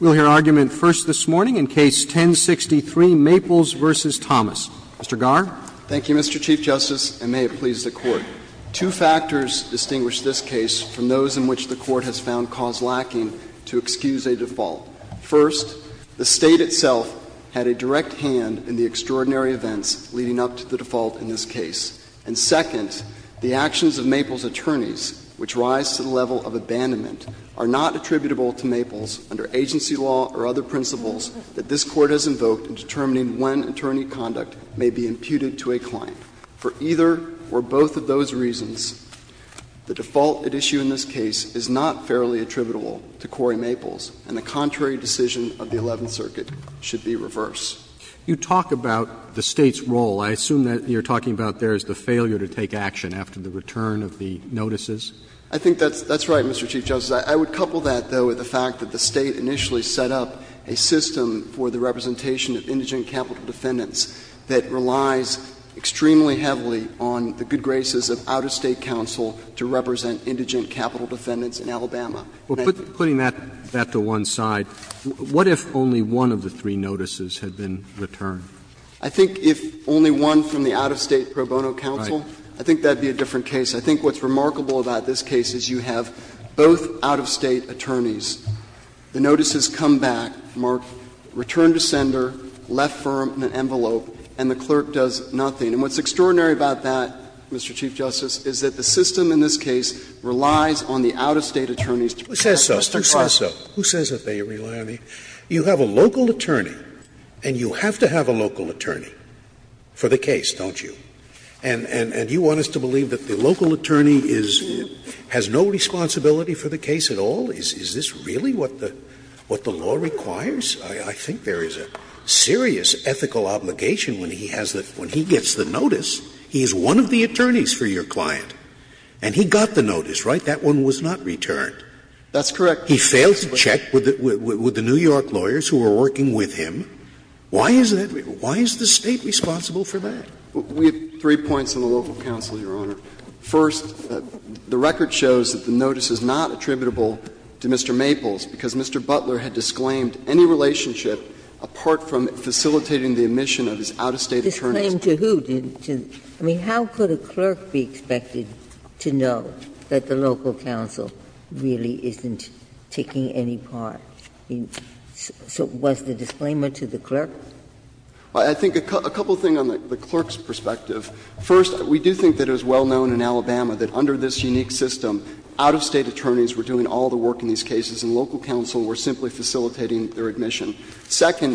We'll hear argument first this morning in Case 1063, Maples v. Thomas. Mr. Garr. Thank you, Mr. Chief Justice, and may it please the Court. Two factors distinguish this case from those in which the Court has found cause lacking to excuse a default. First, the State itself had a direct hand in the extraordinary events leading up to the default in this case. And second, the actions of Maples' attorneys, which rise to the level of abandonment, are not attributable to Maples under agency law or other principles that this Court has invoked in determining when attorney conduct may be imputed to a client. For either or both of those reasons, the default at issue in this case is not fairly attributable to Corey Maples, and the contrary decision of the Eleventh Circuit should be reversed. You talk about the State's role. I assume that you're talking about there is the failure to take action after the return of the notices. I think that's right, Mr. Chief Justice. I would couple that, though, with the fact that the State initially set up a system for the representation of indigent capital defendants that relies extremely heavily on the good graces of out-of-state counsel to represent indigent capital defendants in Alabama. Well, putting that to one side, what if only one of the three notices had been returned? I think if only one from the out-of-state pro bono counsel, I think that would be a different case. I think what's remarkable about this case is you have both out-of-state attorneys. The notices come back, Mark, return to sender, left firm in an envelope, and the clerk does nothing. And what's extraordinary about that, Mr. Chief Justice, is that the system in this case relies on the out-of-state attorneys to protect Mr. Cross. Scalia Who says so? Who says that they rely on the — you have a local attorney and you have to have a local attorney for the case, don't you? And you want us to believe that the local attorney is — has no responsibility for the case at all? Is this really what the law requires? I think there is a serious ethical obligation when he has the — when he gets the notice, he is one of the attorneys for your client, and he got the notice, right? That one was not returned. That's correct. He failed to check with the New York lawyers who were working with him. Why is that? Why is the State responsible for that? We have three points on the local counsel, Your Honor. First, the record shows that the notice is not attributable to Mr. Maples because Mr. Butler had disclaimed any relationship apart from facilitating the admission of his out-of-state attorneys. Ginsburg's claim to who? I mean, how could a clerk be expected to know that the local counsel really isn't taking any part? So was the disclaimer to the clerk? I think a couple of things on the clerk's perspective. First, we do think that it was well known in Alabama that under this unique system, out-of-state attorneys were doing all the work in these cases, and local counsel were simply facilitating their admission. Is there a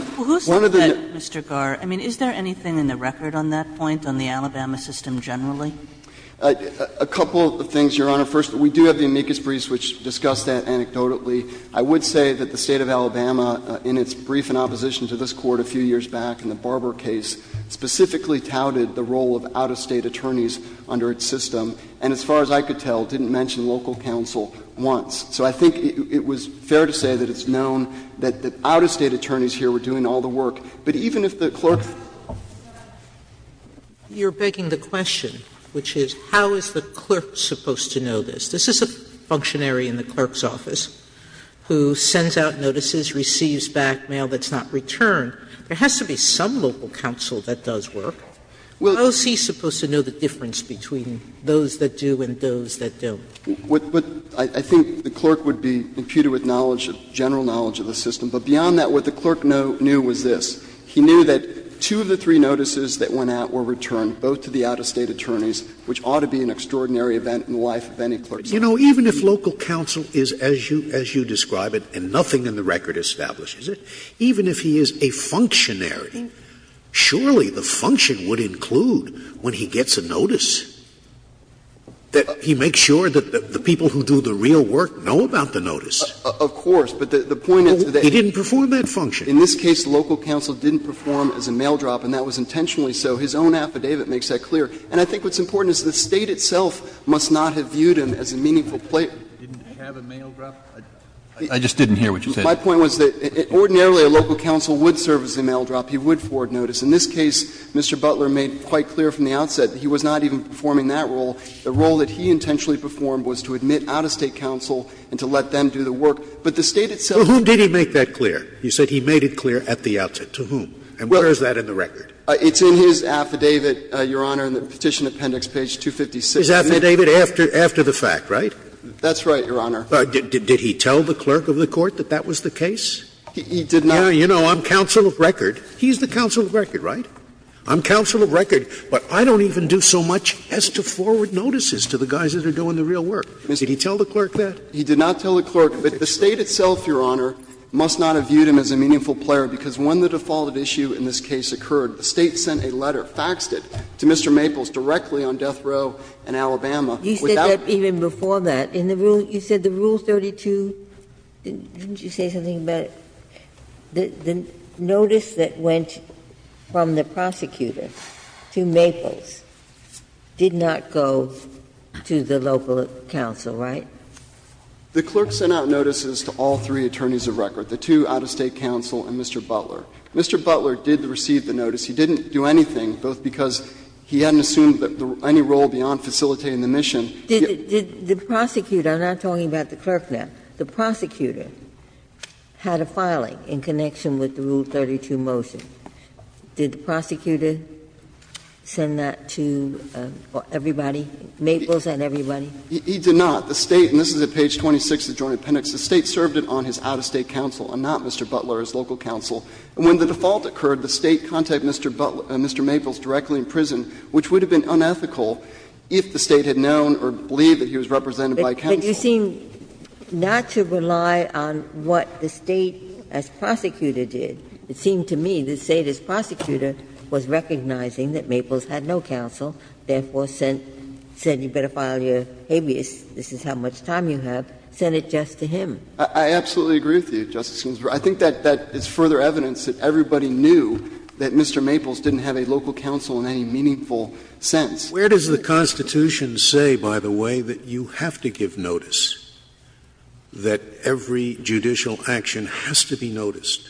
record on that point, on the Alabama system generally? A couple of things, Your Honor. First, we do have the amicus briefs which discuss that anecdotally. I would say that the State of Alabama, in its brief in opposition to this Court a few years back in the Barber case, specifically touted the role of out-of-state attorneys under its system, and as far as I could tell, didn't mention local counsel once. So I think it was fair to say that it's known that out-of-state attorneys here were doing all the work. But even if the clerk's Sotomayor, you are begging the question, which is how is the clerk supposed to know this? This is a functionary in the clerk's office who sends out notices, receives back mail that's not returned. There has to be some local counsel that does work. How is he supposed to know the difference between those that do and those that don't? I think the clerk would be imputed with knowledge, general knowledge of the system. But beyond that, what the clerk knew was this. He knew that two of the three notices that went out were returned, both to the out-of-state attorneys, which ought to be an extraordinary event in the life of any clerk. Scalia. You know, even if local counsel is, as you describe it, and nothing in the record establishes it, even if he is a functionary, surely the function would include when he gets a notice, that he makes sure that the people who do the real work know about the notice. Of course, but the point is that he didn't know the difference. He didn't perform that function. In this case, the local counsel didn't perform as a mail drop, and that was intentionally so. His own affidavit makes that clear. And I think what's important is the State itself must not have viewed him as a meaningful player. Scalia. Didn't have a mail drop? I just didn't hear what you said. My point was that ordinarily a local counsel would serve as a mail drop. He would forward notice. In this case, Mr. Butler made quite clear from the outset that he was not even performing that role. The role that he intentionally performed was to admit out-of-state counsel and to let them do the work. But the State itself did not. Well, to whom did he make that clear? You said he made it clear at the outset. To whom? And where is that in the record? It's in his affidavit, Your Honor, in the Petition Appendix, page 256. His affidavit after the fact, right? That's right, Your Honor. Did he tell the clerk of the court that that was the case? He did not. You know, I'm counsel of record. He's the counsel of record, right? I'm counsel of record, but I don't even do so much as to forward notices to the guys that are doing the real work. Did he tell the clerk that? He did not tell the clerk. But the State itself, Your Honor, must not have viewed him as a meaningful player, because when the defaulted issue in this case occurred, the State sent a letter, faxed it to Mr. Maples directly on death row in Alabama without the court's consent. You said that even before that. In the rule you said the Rule 32, didn't you say something about it? The notice that went from the prosecutor to Maples did not go to the local counsel, right? The clerk sent out notices to all three attorneys of record, the two out-of-state counsel and Mr. Butler. Mr. Butler did receive the notice. He didn't do anything, both because he hadn't assumed any role beyond facilitating the mission. Did the prosecutor, I'm not talking about the clerk now, the prosecutor had a filing in connection with the Rule 32 motion. Did the prosecutor send that to everybody, Maples and everybody? He did not. The State, and this is at page 26 of the Joint Appendix, the State served it on his out-of-state counsel and not Mr. Butler, his local counsel. And when the default occurred, the State contacted Mr. Butler and Mr. Maples directly in prison, which would have been unethical if the State had known or believed that he was represented by counsel. But you seem not to rely on what the State, as prosecutor, did. It seemed to me the State, as prosecutor, was recognizing that Maples had no counsel, therefore said, you better file your habeas, this is how much time you have, sent it just to him. I absolutely agree with you, Justice Ginsburg. I think that is further evidence that everybody knew that Mr. Maples didn't have a local counsel in any meaningful sense. Where does the Constitution say, by the way, that you have to give notice, that every judicial action has to be noticed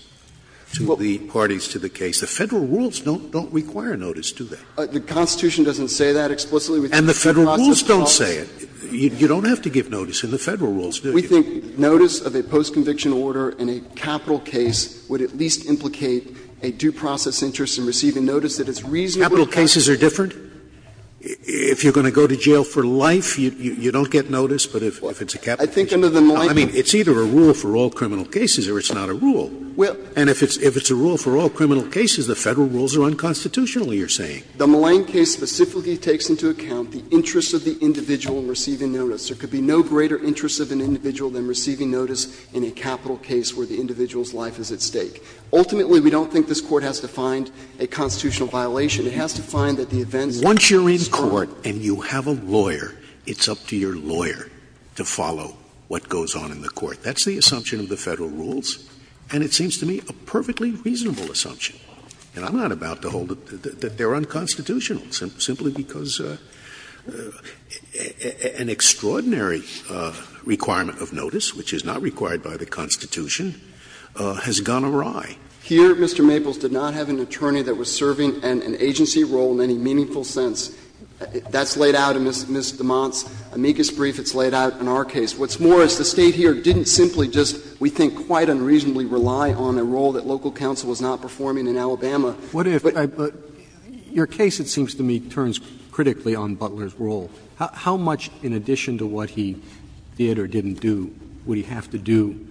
to the parties to the case? The Federal rules don't require notice, do they? The Constitution doesn't say that explicitly. And the Federal rules don't say it. You don't have to give notice in the Federal rules, do you? We think notice of a post-conviction order in a capital case would at least implicate a due process interest in receiving notice that it's reasonable to come to. Capital cases are different. If you are going to go to jail for life, you don't get notice, but if it's a capital case. I think under the Milito. I mean, it's either a rule for all criminal cases or it's not a rule. And if it's a rule for all criminal cases, the Federal rules are unconstitutional, you are saying. The Milleen case specifically takes into account the interest of the individual in receiving notice. There could be no greater interest of an individual than receiving notice in a capital case where the individual's life is at stake. Ultimately, we don't think this Court has to find a constitutional violation. It has to find that the events in this case are unconstitutional. Once you are in court and you have a lawyer, it's up to your lawyer to follow what goes on in the court. That's the assumption of the Federal rules, and it seems to me a perfectly reasonable assumption. And I'm not about to hold that they are unconstitutional simply because an extraordinary requirement of notice, which is not required by the Constitution, has gone awry. Here, Mr. Maples did not have an attorney that was serving an agency role in any meaningful sense. That's laid out in Ms. DeMont's amicus brief. It's laid out in our case. What's more is the State here didn't simply just, we think, quite unreasonably rely on a role that local counsel was not performing in Alabama. But your case, it seems to me, turns critically on Butler's role. How much, in addition to what he did or didn't do, would he have to do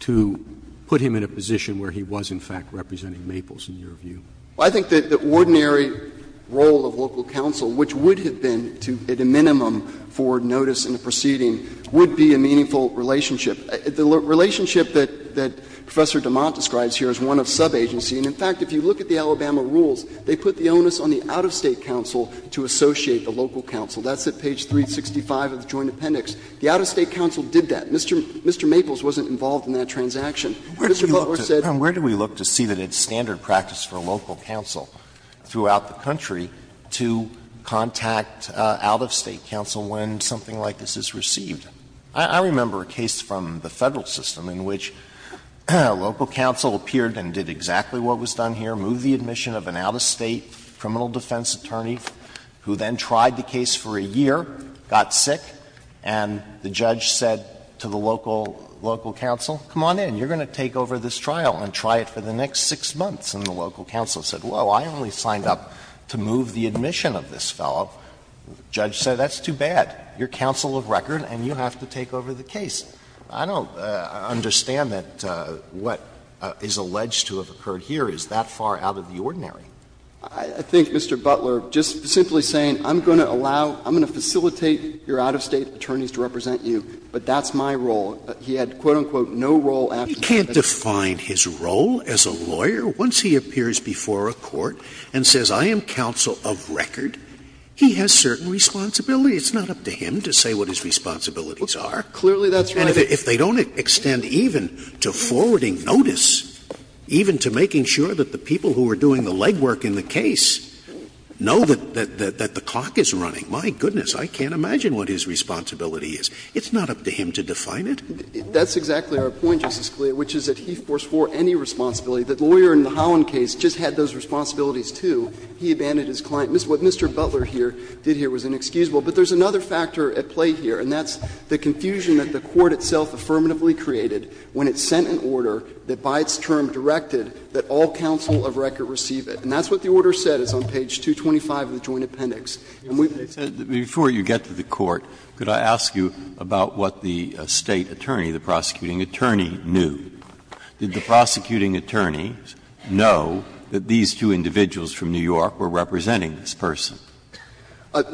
to put him in a position where he was, in fact, representing Maples in your view? I think that the ordinary role of local counsel, which would have been at a minimum for notice in a proceeding, would be a meaningful relationship. The relationship that Professor DeMont describes here is one of sub-agency. And in fact, if you look at the Alabama rules, they put the onus on the out-of-State counsel to associate the local counsel. That's at page 365 of the Joint Appendix. The out-of-State counsel did that. Mr. Maples wasn't involved in that transaction. Mr. Butler said he was. Alito, where do we look to see that it's standard practice for a local counsel throughout the country to contact out-of-State counsel when something like this is received? I remember a case from the Federal system in which local counsel appeared and did exactly what was done here, moved the admission of an out-of-State criminal defense attorney who then tried the case for a year, got sick, and the judge said to the local counsel, come on in, you're going to take over this trial and try it for the next 6 months. And the local counsel said, well, I only signed up to move the admission of this fellow. The judge said, that's too bad. You're counsel of record and you have to take over the case. I don't understand that what is alleged to have occurred here is that far out of the ordinary. I think, Mr. Butler, just simply saying, I'm going to allow, I'm going to facilitate your out-of-State attorneys to represent you, but that's my role. He had, quote, unquote, no role after that. You can't define his role as a lawyer once he appears before a court and says, I am counsel of record. He has certain responsibility. It's not up to him to say what his responsibilities are. Clearly, that's right. And if they don't extend even to forwarding notice, even to making sure that the people who are doing the legwork in the case know that the clock is running, my goodness, I can't imagine what his responsibility is. It's not up to him to define it. That's exactly our point, Justice Scalia, which is that he was for any responsibility. The lawyer in the Holland case just had those responsibilities, too. He abandoned his client. What Mr. Butler here did here was inexcusable. But there's another factor at play here, and that's the confusion that the Court itself affirmatively created when it sent an order that by its term directed that all counsel of record receive it. And that's what the order said. It's on page 225 of the Joint Appendix. And we've been saying that before you get to the Court, could I ask you about what the State attorney, the prosecuting attorney, knew? Did the prosecuting attorney know that these two individuals from New York were representing this person?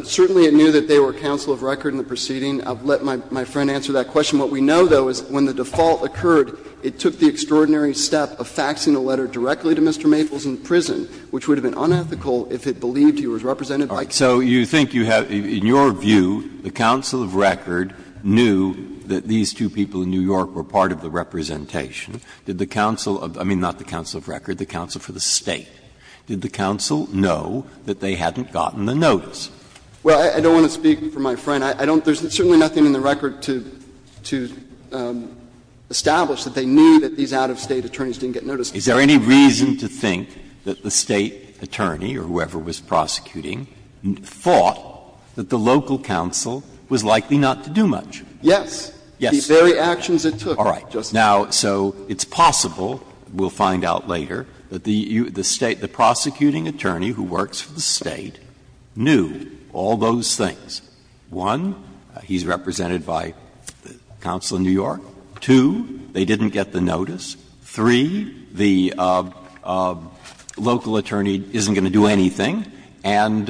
Certainly, it knew that they were counsel of record in the proceeding. I'll let my friend answer that question. What we know, though, is when the default occurred, it took the extraordinary step of faxing a letter directly to Mr. Maples in prison, which would have been unethical if it believed he was represented by counsel of record. So you think you have — in your view, the counsel of record knew that these two people in New York were part of the representation. Did the counsel — I mean, not the counsel of record, the counsel for the State. Did the counsel know that they hadn't gotten the notice? Well, I don't want to speak for my friend. I don't — there's certainly nothing in the record to establish that they knew that these out-of-State attorneys didn't get notice. Is there any reason to think that the State attorney or whoever was prosecuting thought that the local counsel was likely not to do much? Yes. Yes. The very actions it took, Justice Breyer. Now, so it's possible, we'll find out later, that the State — the prosecuting attorney who works for the State knew all those things. One, he's represented by counsel in New York. Two, they didn't get the notice. Three, the local attorney isn't going to do anything. And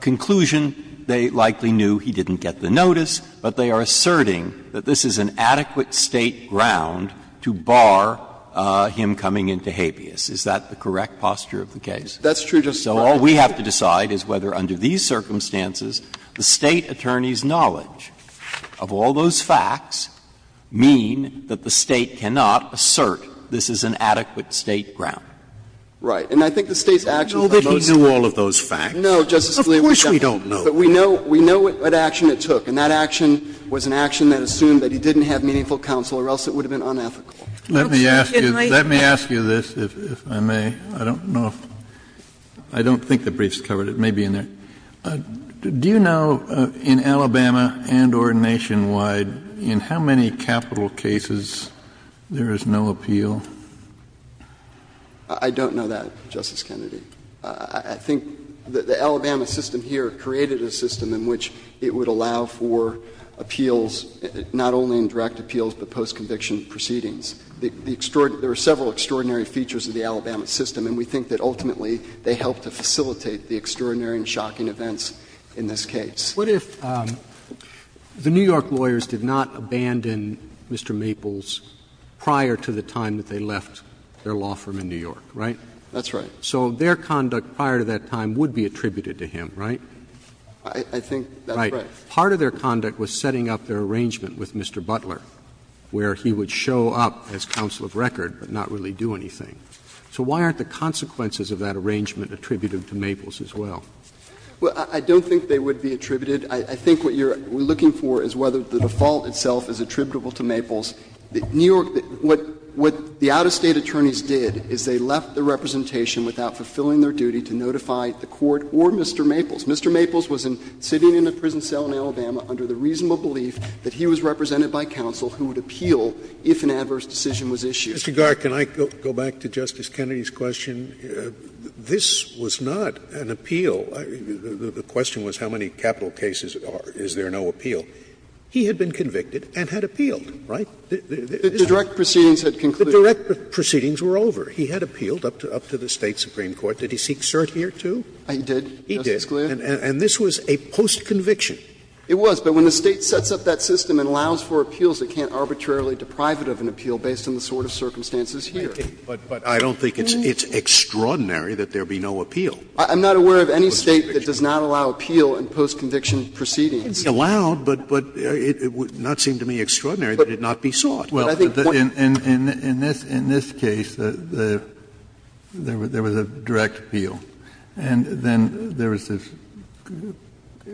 conclusion, they likely knew he didn't get the notice, but they are asserting that this is an adequate State ground to bar him coming into habeas. Is that the correct posture of the case? That's true, Justice Breyer. So all we have to decide is whether under these circumstances the State attorney's knowledge of all those facts mean that the State cannot assert this is an adequate State ground. Right. And I think the State's actions are those facts. So he knew all of those facts. No, Justice Scalia, we don't. Of course we don't know. But we know — we know what action it took, and that action was an action that assumed that he didn't have meaningful counsel or else it would have been unethical. Let me ask you this, if I may. I don't know if — I don't think the brief's covered. It may be in there. Do you know, in Alabama and or nationwide, in how many capital cases there is no appeal? I don't know that, Justice Kennedy. I think the Alabama system here created a system in which it would allow for appeals not only in direct appeals, but post-conviction proceedings. The extraordinary — there are several extraordinary features of the Alabama system, and we think that ultimately they help to facilitate the extraordinary and shocking events in this case. What if the New York lawyers did not abandon Mr. Maples prior to the time that they left their law firm in New York, right? That's right. So their conduct prior to that time would be attributed to him, right? I think that's right. Right. Part of their conduct was setting up their arrangement with Mr. Butler, where he would show up as counsel of record but not really do anything. So why aren't the consequences of that arrangement attributed to Maples as well? Well, I don't think they would be attributed. I think what you're looking for is whether the default itself is attributable to Maples. New York — what the out-of-state attorneys did is they left the representation without fulfilling their duty to notify the court or Mr. Maples. Mr. Maples was sitting in a prison cell in Alabama under the reasonable belief that he was represented by counsel who would appeal if an adverse decision was issued. Mr. Garrett, can I go back to Justice Kennedy's question? This was not an appeal. The question was how many capital cases are — is there no appeal? He had been convicted and had appealed, right? The direct proceedings had concluded. The direct proceedings were over. He had appealed up to the State supreme court. Did he seek cert here, too? He did. He did. And this was a post-conviction. It was. But when the State sets up that system and allows for appeals, it can't arbitrarily deprive it of an appeal based on the sort of circumstances here. But I don't think it's extraordinary that there be no appeal. I'm not aware of any State that does not allow appeal in post-conviction proceedings. It's allowed, but it would not seem to me extraordinary that it not be so. We saw it. But I think what — Kennedy, in this case, there was a direct appeal. And then there was this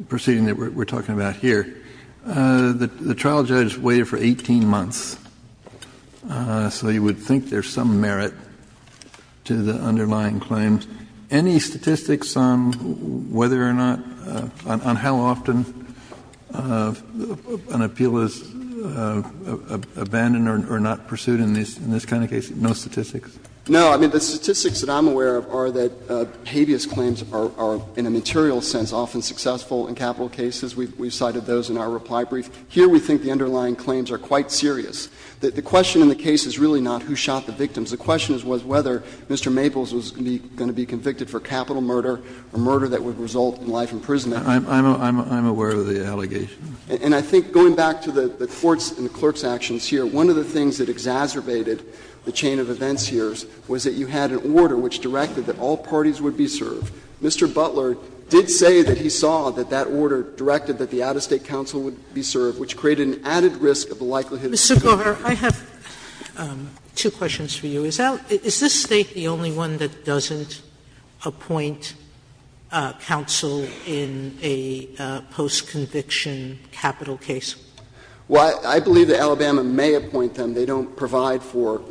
proceeding that we're talking about here. The trial judge waited for 18 months. So you would think there's some merit to the underlying claims. Kennedy, any statistics on whether or not — on how often an appeal is abandoned or not pursued in this kind of case? No statistics? No. I mean, the statistics that I'm aware of are that habeas claims are, in a material sense, often successful in capital cases. We cited those in our reply brief. Here we think the underlying claims are quite serious. The question in the case is really not who shot the victims. The question was whether Mr. Maples was going to be convicted for capital murder or murder that would result in life imprisonment. I'm aware of the allegations. And I think going back to the Court's and the clerk's actions here, one of the things that exacerbated the chain of events here was that you had an order which directed that all parties would be served. Mr. Butler did say that he saw that that order directed that the out-of-State convicted. Sotomayor, I have two questions for you. Is this State the only one that doesn't appoint counsel in a post-conviction capital case? Well, I believe that Alabama may appoint them. They don't provide for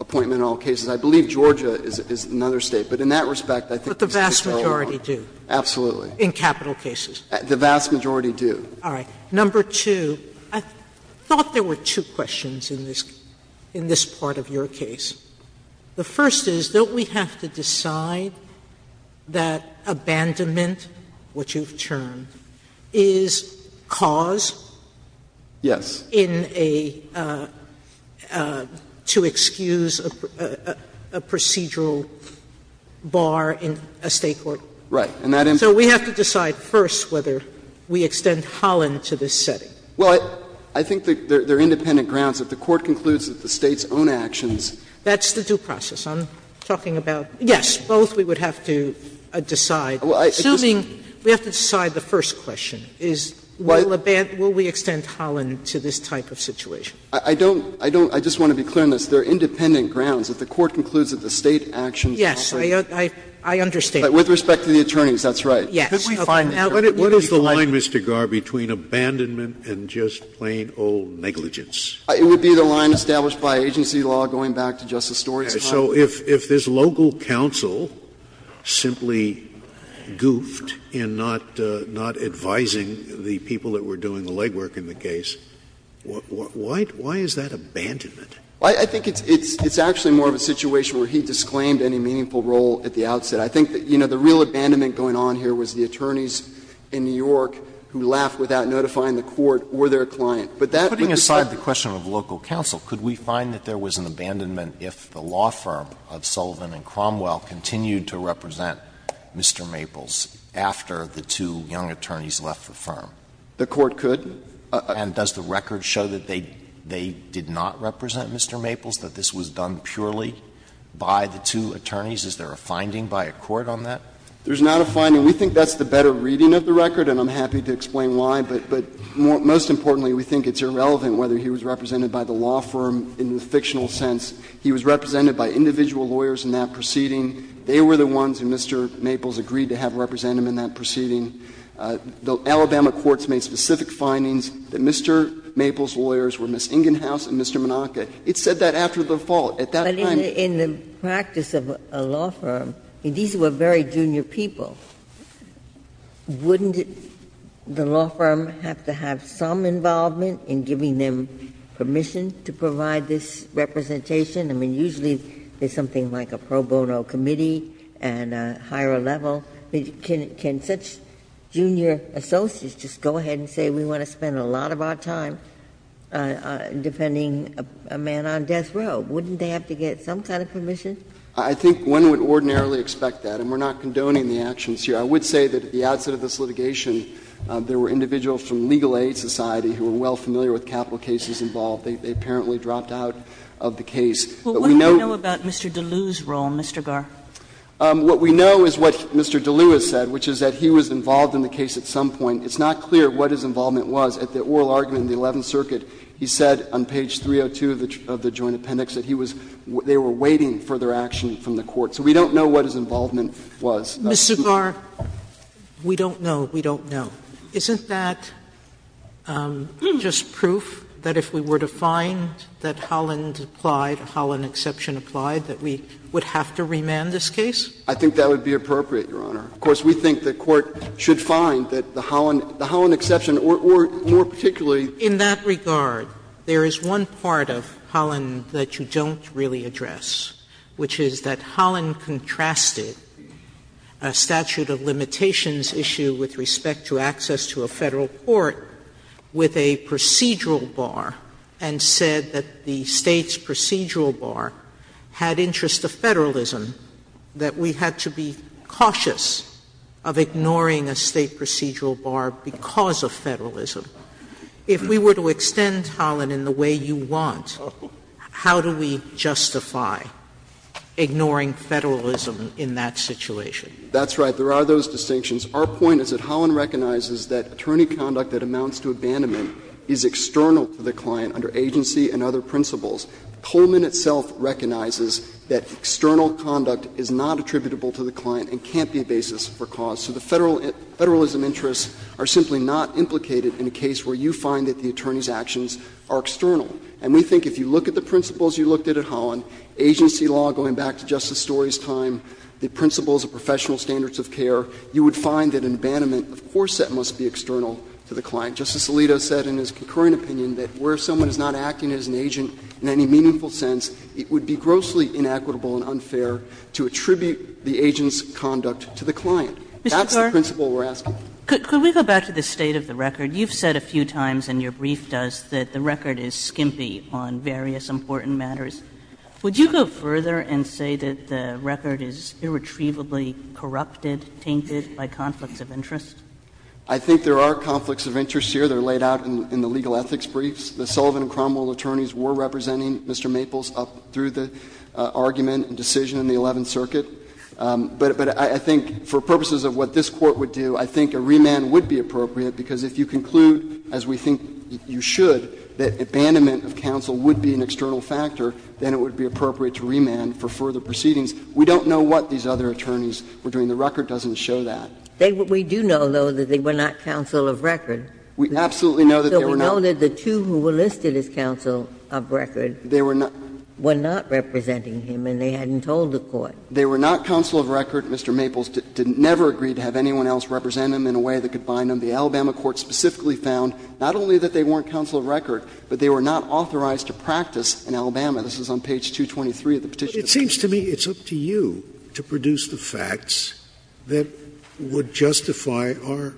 appointment in all cases. I believe Georgia is another State. But in that respect, I think it's a good tell of one. But the vast majority do? Absolutely. In capital cases? The vast majority do. All right. Number two, I thought there were two questions in this part of your case. The first is, don't we have to decide that abandonment, which you've termed, is cause? Yes. In a to excuse a procedural bar in a State court? Right. So we have to decide first whether we extend Holland to this setting? Well, I think there are independent grounds. If the Court concludes that the State's own actions. That's the due process. I'm talking about yes, both we would have to decide. Assuming we have to decide the first question is will we extend Holland to this type of situation? I don't – I just want to be clear on this. There are independent grounds. If the Court concludes that the State actions. Yes. I understand. With respect to the attorneys, that's right. Yes. Could we find that? What is the line, Mr. Garre, between abandonment and just plain old negligence? It would be the line established by agency law going back to Justice Story's time. So if this local counsel simply goofed in not advising the people that were doing the legwork in the case, why is that abandonment? I think it's actually more of a situation where he disclaimed any meaningful role at the outset. I think, you know, the real abandonment going on here was the attorneys in New York who laughed without notifying the court or their client. But that would be the case. Alito, putting aside the question of local counsel, could we find that there was an abandonment if the law firm of Sullivan and Cromwell continued to represent Mr. Maples after the two young attorneys left the firm? The court could. And does the record show that they did not represent Mr. Maples, that this was done purely by the two attorneys? Is there a finding by a court on that? There's not a finding. We think that's the better reading of the record, and I'm happy to explain why. But most importantly, we think it's irrelevant whether he was represented by the law firm in the fictional sense. He was represented by individual lawyers in that proceeding. They were the ones that Mr. Maples agreed to have represent him in that proceeding. The Alabama courts made specific findings that Mr. Maples' lawyers were Ms. Ingenhouse and Mr. Monaca. It said that after the fault. At that time, it didn't say that. The great practice of a law firm, these were very junior people. Wouldn't the law firm have to have some involvement in giving them permission to provide this representation? I mean, usually there's something like a pro bono committee and higher level. Can such junior associates just go ahead and say, we want to spend a lot of our time defending a man on death row? Wouldn't they have to get some kind of permission? I think one would ordinarily expect that, and we're not condoning the actions here. I would say that at the outset of this litigation, there were individuals from Legal Aid Society who were well familiar with capital cases involved. They apparently dropped out of the case. But we know. But what do we know about Mr. DeLue's role, Mr. Garre? What we know is what Mr. DeLue has said, which is that he was involved in the case at some point. It's not clear what his involvement was. At the oral argument in the Eleventh Circuit, he said on page 302 of the joint appendix that he was they were waiting for their action from the court. So we don't know what his involvement was. Sotomayor, we don't know. We don't know. Isn't that just proof that if we were to find that Holland applied, Holland exception applied, that we would have to remand this case? I think that would be appropriate, Your Honor. Of course, we think the Court should find that the Holland exception, or more particularly In that regard, there is one part of Holland that you don't really address, which is that Holland contrasted a statute of limitations issue with respect to access to a Federal court with a procedural bar and said that the State's procedural bar had interest of Federalism, that we had to be cautious of ignoring a State procedural bar because of Federalism. If we were to extend Holland in the way you want, how do we justify ignoring Federalism in that situation? That's right. There are those distinctions. Our point is that Holland recognizes that attorney conduct that amounts to abandonment is external to the client under agency and other principles. Coleman itself recognizes that external conduct is not attributable to the client and can't be a basis for cause. So the Federalism interests are simply not implicated in a case where you find that the attorney's actions are external. And we think if you look at the principles you looked at at Holland, agency law going back to Justice Story's time, the principles of professional standards of care, you would find that in abandonment, of course, that must be external to the client. Justice Alito said in his concurrent opinion that where someone is not acting as an agent in any meaningful sense, it would be grossly inequitable and unfair to attribute the agent's conduct to the client. That's the principle we're asking. Kagan. Kagan. Could we go back to the state of the record? You've said a few times, and your brief does, that the record is skimpy on various important matters. Would you go further and say that the record is irretrievably corrupted, tainted by conflicts of interest? I think there are conflicts of interest here. They're laid out in the legal ethics briefs. The Sullivan and Cromwell attorneys were representing Mr. Maples up through the argument and decision in the Eleventh Circuit. But I think for purposes of what this Court would do, I think a remand would be appropriate, because if you conclude, as we think you should, that abandonment of counsel would be an external factor, then it would be appropriate to remand for further proceedings. We don't know what these other attorneys were doing. The record doesn't show that. We do know, though, that they were not counsel of record. We absolutely know that they were not. So we know that the two who were listed as counsel of record were not representing him and they hadn't told the Court. They were not counsel of record. Mr. Maples never agreed to have anyone else represent him in a way that could bind him. The Alabama court specifically found not only that they weren't counsel of record, but they were not authorized to practice in Alabama. This is on page 223 of the Petitioner's Claim. Scalia. But it seems to me it's up to you to produce the facts that would justify our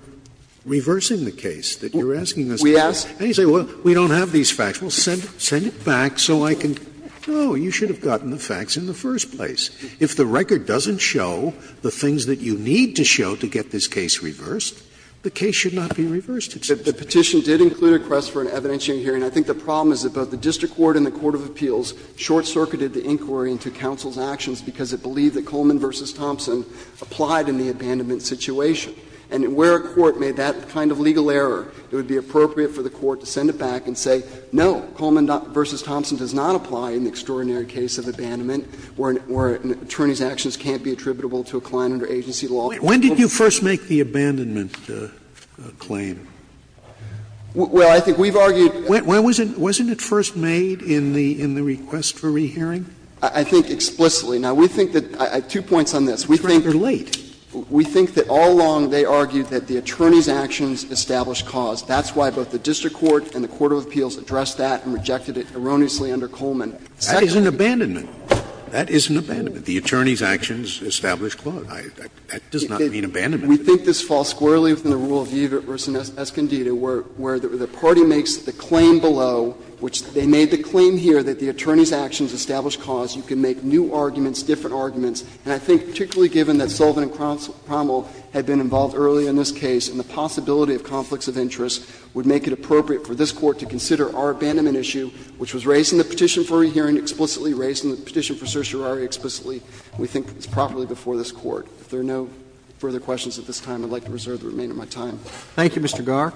reversing the case, that you're asking us to do. And you say, well, we don't have these facts. Well, send it back so I can go, you should have gotten the facts in the first place. If the record doesn't show the things that you need to show to get this case reversed, the case should not be reversed. The Petition did include a request for an evidentiary hearing. I think the problem is that both the district court and the court of appeals short-circuited the inquiry into counsel's actions because it believed that Coleman v. Thompson applied in the abandonment situation. And where a court made that kind of legal error, it would be appropriate for the court to send it back and say, no, Coleman v. Thompson does not apply in the extraordinary case of abandonment, where an attorney's actions can't be attributable to a client under agency law. Scalia. When did you first make the abandonment claim? Well, I think we've argued that the attorney's actions established cause. Wasn't it first made in the request for re-hearing? I think explicitly. Now, we think that we think that all along they argued that the attorney's actions established cause. That's why both the district court and the court of appeals addressed that and rejected it erroneously under Coleman. That is an abandonment. That is an abandonment. The attorney's actions established cause. That does not mean abandonment. We think this falls squarely within the rule of viva v. Escondido, where the party makes the claim below, which they made the claim here that the attorney's actions established cause. You can make new arguments, different arguments. And I think particularly given that Sullivan and Cromwell had been involved earlier in this case, and the possibility of conflicts of interest would make it appropriate for this Court to consider our abandonment issue, which was raised in the petition for re-hearing explicitly, raised in the petition for certiorari explicitly. We think it's properly before this Court. If there are no further questions at this time, I'd like to reserve the remainder of my time. Thank you, Mr. Garre.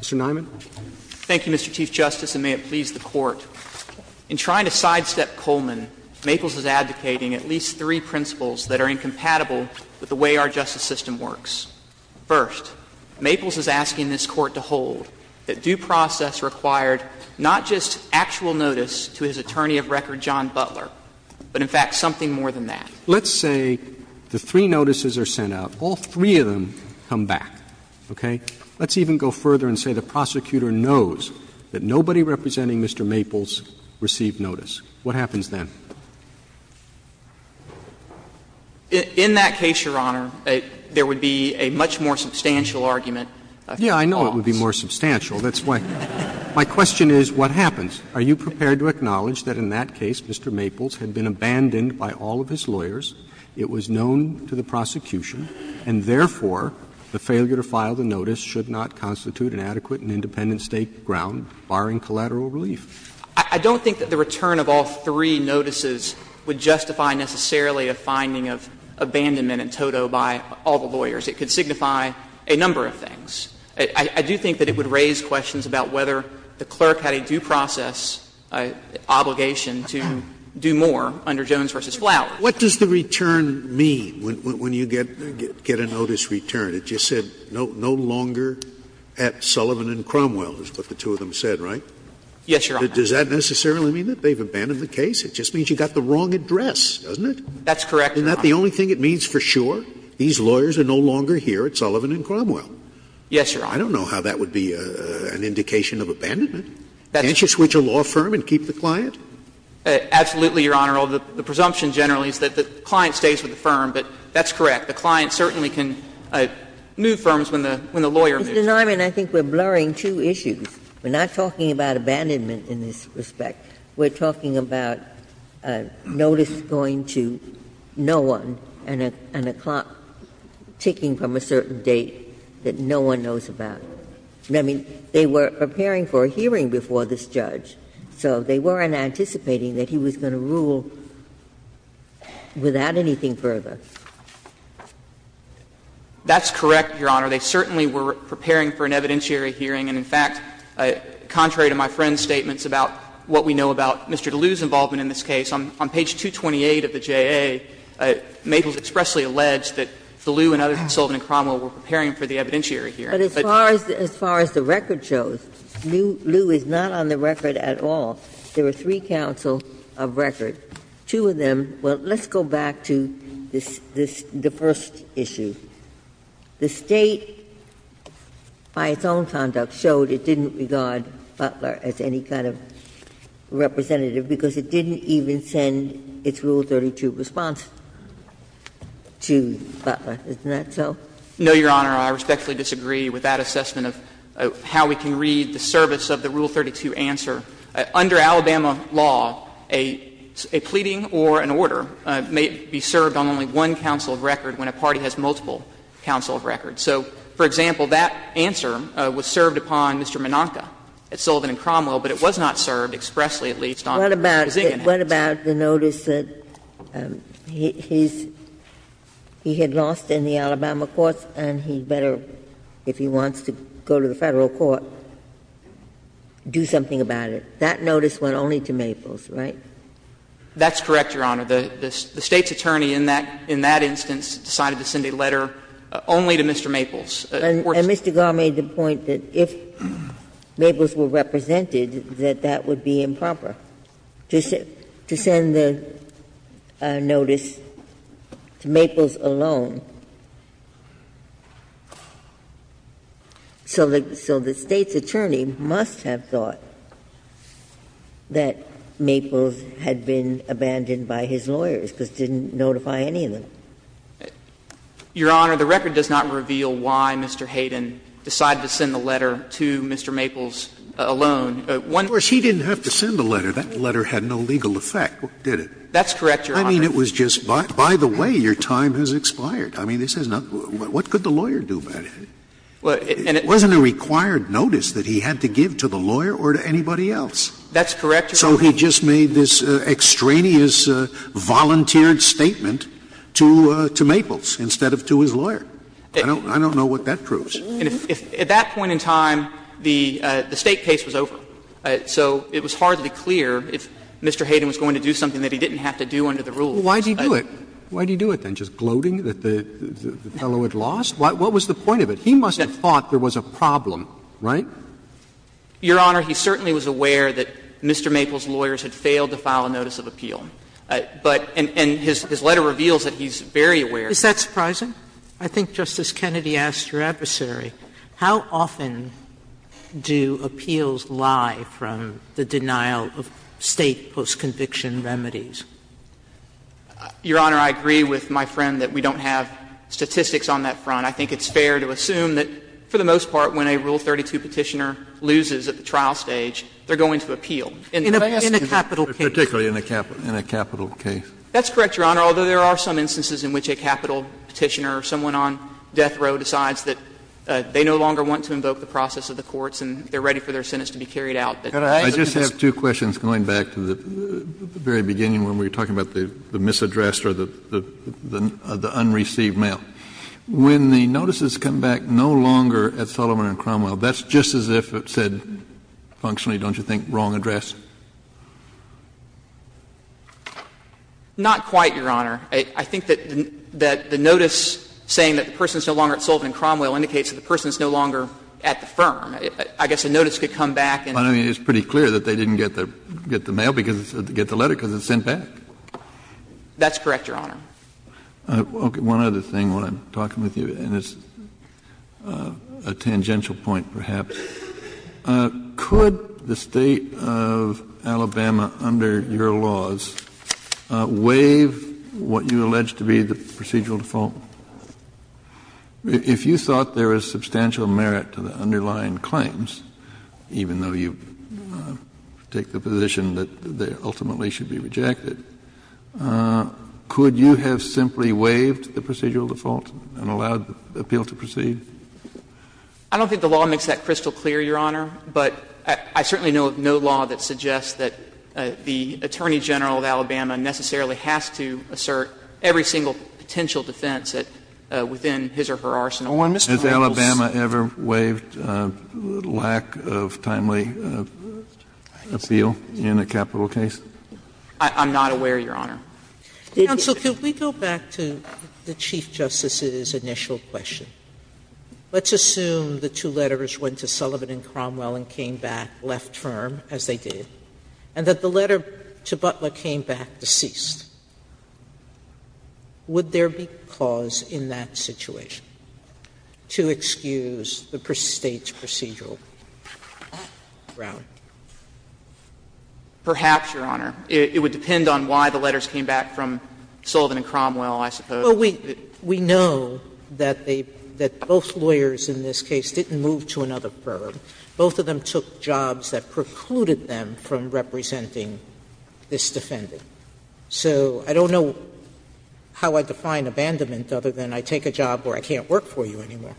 Mr. Nyman. Thank you, Mr. Chief Justice, and may it please the Court. In trying to sidestep Coleman, Maples is advocating at least three principles that are incompatible with the way our justice system works. First, Maples is asking this Court to hold that due process required not just actual notice to his attorney of record, John Butler, but in fact something more than that. Let's say the three notices are sent out. All three of them come back. Okay? Let's even go further and say the prosecutor knows that nobody representing Mr. Maples received notice. What happens then? In that case, Your Honor, there would be a much more substantial argument. Yeah, I know it would be more substantial. That's why my question is, what happens? Are you prepared to acknowledge that in that case Mr. Maples had been abandoned by all of his lawyers, it was known to the prosecution, and therefore the failure to file the notice should not constitute an adequate and independent state ground, barring collateral relief? I don't think that the return of all three notices would justify necessarily a finding of abandonment in toto by all the lawyers. It could signify a number of things. I do think that it would raise questions about whether the clerk had a due process obligation to do more under Jones v. Flowers. Scalia. Scalia. What does the return mean when you get a notice returned? It just said no longer at Sullivan and Cromwell, is what the two of them said, right? Yes, Your Honor. Does that necessarily mean that they've abandoned the case? It just means you got the wrong address, doesn't it? That's correct, Your Honor. Isn't that the only thing it means for sure? These lawyers are no longer here at Sullivan and Cromwell. Yes, Your Honor. I don't know how that would be an indication of abandonment. Can't you switch a law firm and keep the client? Absolutely, Your Honor. The presumption generally is that the client stays with the firm, but that's correct. The client certainly can move firms when the lawyer moves. Mr. Niemann, I think we're blurring two issues. We're not talking about abandonment in this respect. We're talking about a notice going to no one and a clock ticking from a certain date that no one knows about. I mean, they were preparing for a hearing before this judge, so they weren't anticipating that he was going to rule without anything further. That's correct, Your Honor. They certainly were preparing for an evidentiary hearing. And in fact, contrary to my friend's statements about what we know about Mr. DeLue's involvement in this case, on page 228 of the JA, Maples expressly alleged that DeLue and others at Sullivan and Cromwell were preparing for the evidentiary hearing. But as far as the record shows, DeLue is not on the record at all. There are three counsel of record. Two of them were — let's go back to this — the first issue. The State, by its own conduct, showed it didn't regard Butler as any kind of representative because it didn't even send its Rule 32 response to Butler. Isn't that so? No, Your Honor. I respectfully disagree with that assessment of how we can read the service of the Rule 32 answer. Under Alabama law, a pleading or an order may be served on only one counsel of record when a party has multiple counsel of record. So, for example, that answer was served upon Mr. Menonca at Sullivan and Cromwell, but it was not served expressly, at least, on the Ziggins case. What about the notice that he's — he had lost in the Alabama courts and he better, if he wants to go to the Federal court, do something about it? That notice went only to Maples, right? That's correct, Your Honor. The State's attorney in that instance decided to send a letter only to Mr. Maples. And Mr. Gare made the point that if Maples were represented, that that would be improper. To send the notice to Maples alone, so the State's attorney must have thought that Maples had been abandoned by his lawyers, because it didn't notify any of them. Your Honor, the record does not reveal why Mr. Hayden decided to send the letter to Mr. Maples alone. Of course, he didn't have to send the letter. That letter had no legal effect, did it? That's correct, Your Honor. I mean, it was just, by the way, your time has expired. I mean, this has not — what could the lawyer do about it? It wasn't a required notice that he had to give to the lawyer or to anybody else. That's correct, Your Honor. So he just made this extraneous, volunteered statement to Maples instead of to his lawyer. I don't know what that proves. At that point in time, the State case was over, so it was hardly clear if Mr. Hayden was going to do something that he didn't have to do under the rules. Why did he do it? Why did he do it, then? Just gloating that the fellow had lost? What was the point of it? He must have thought there was a problem, right? Your Honor, he certainly was aware that Mr. Maples' lawyers had failed to file a notice of appeal. But — and his letter reveals that he's very aware. Is that surprising? I think Justice Kennedy asked your adversary, how often do appeals lie from the denial of State postconviction remedies? Your Honor, I agree with my friend that we don't have statistics on that front. I think it's fair to assume that, for the most part, when a Rule 32 Petitioner loses at the trial stage, they're going to appeal. In a capital case. Particularly in a capital case. That's correct, Your Honor, although there are some instances in which a capital case where a Petitioner or someone on death row decides that they no longer want to invoke the process of the courts and they're ready for their sentence to be carried out. Kennedy, I just have two questions going back to the very beginning when we were talking about the misaddressed or the unreceived mail. When the notices come back no longer at Sullivan and Cromwell, that's just as if it said functionally, don't you think, wrong address? Not quite, Your Honor. I think that the notice saying that the person is no longer at Sullivan and Cromwell indicates that the person is no longer at the firm. I guess a notice could come back and the person is no longer at the firm. But I mean, it's pretty clear that they didn't get the mail because it said to get the letter because it was sent back. That's correct, Your Honor. One other thing while I'm talking with you, and it's a tangential point, perhaps. Could the State of Alabama, under your laws, waive what you allege to be the procedural default? If you thought there was substantial merit to the underlying claims, even though you take the position that they ultimately should be rejected, could you have simply waived the procedural default and allowed the appeal to proceed? I don't think the law makes that crystal clear, Your Honor. But I certainly know of no law that suggests that the Attorney General of Alabama necessarily has to assert every single potential defense within his or her arsenal. Has Alabama ever waived lack of timely appeal in a capital case? I'm not aware, Your Honor. Counsel, could we go back to the Chief Justice's initial question? Let's assume the two letters went to Sullivan and Cromwell and came back left firm, as they did, and that the letter to Butler came back deceased. Would there be cause in that situation to excuse the State's procedural ground? Perhaps, Your Honor. It would depend on why the letters came back from Sullivan and Cromwell, I suppose. Sotomayor, we know that both lawyers in this case didn't move to another firm. Both of them took jobs that precluded them from representing this defendant. So I don't know how I define abandonment other than I take a job where I can't work for you anymore.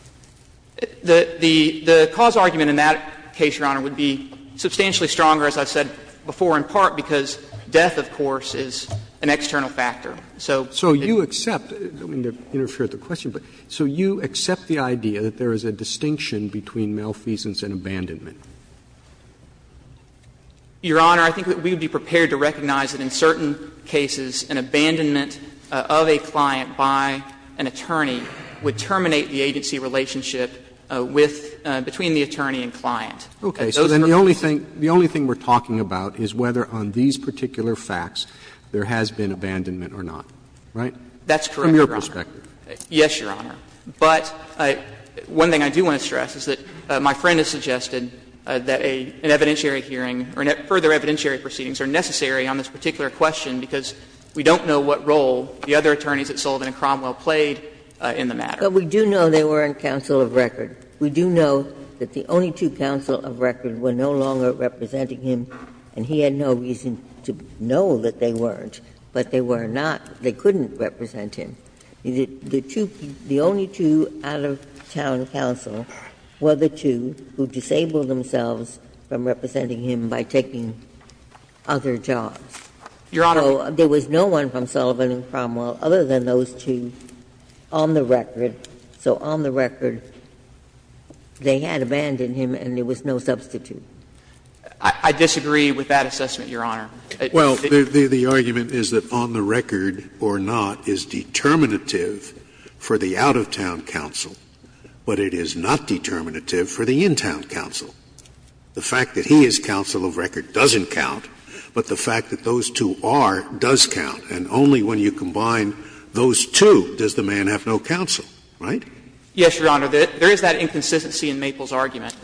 The cause argument in that case, Your Honor, would be substantially stronger, as I said before, in part because death, of course, is an external factor. So you accept the question, but so you accept the idea that there is a distinction between malfeasance and abandonment? Your Honor, I think that we would be prepared to recognize that in certain cases an abandonment of a client by an attorney would terminate the agency relationship with the attorney and client. Okay. So then the only thing we're talking about is whether on these particular facts there has been abandonment or not, right? That's correct, Your Honor. From your perspective. Yes, Your Honor. But one thing I do want to stress is that my friend has suggested that an evidentiary hearing or further evidentiary proceedings are necessary on this particular question because we don't know what role the other attorneys at Sullivan and Cromwell played in the matter. But we do know they were on counsel of record. We do know that the only two counsel of record were no longer representing him, and he had no reason to know that they weren't, but they were not, they couldn't represent him. The two, the only two out-of-town counsel were the two who disabled themselves from representing him by taking other jobs. Your Honor. So there was no one from Sullivan and Cromwell other than those two on the record. So on the record, they had abandoned him and there was no substitute. I disagree with that assessment, Your Honor. Well, the argument is that on the record or not is determinative for the out-of-town counsel, but it is not determinative for the in-town counsel. The fact that he is counsel of record doesn't count, but the fact that those two are does count. And only when you combine those two does the man have no counsel, right? Yes, Your Honor. There is that inconsistency in Maple's argument.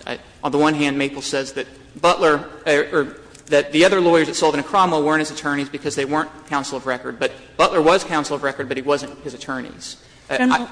On the one hand, Maple says that Butler or that the other lawyers at Sullivan and Cromwell weren't his attorneys because they weren't counsel of record, but Butler was counsel of record, but he wasn't his attorneys. General,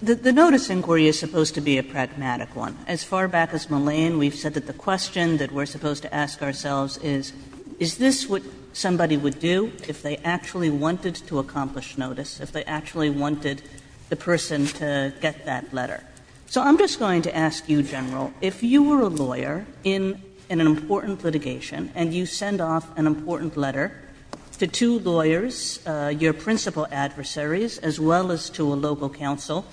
the notice inquiry is supposed to be a pragmatic one. As far back as Mullane, we've said that the question that we're supposed to ask ourselves is, is this what somebody would do if they actually wanted to accomplish notice, if they actually wanted the person to get that letter? So I'm just going to ask you, General, if you were a lawyer in an important litigation and you send off an important letter to two lawyers, your principal adversaries, as well as to a local counsel,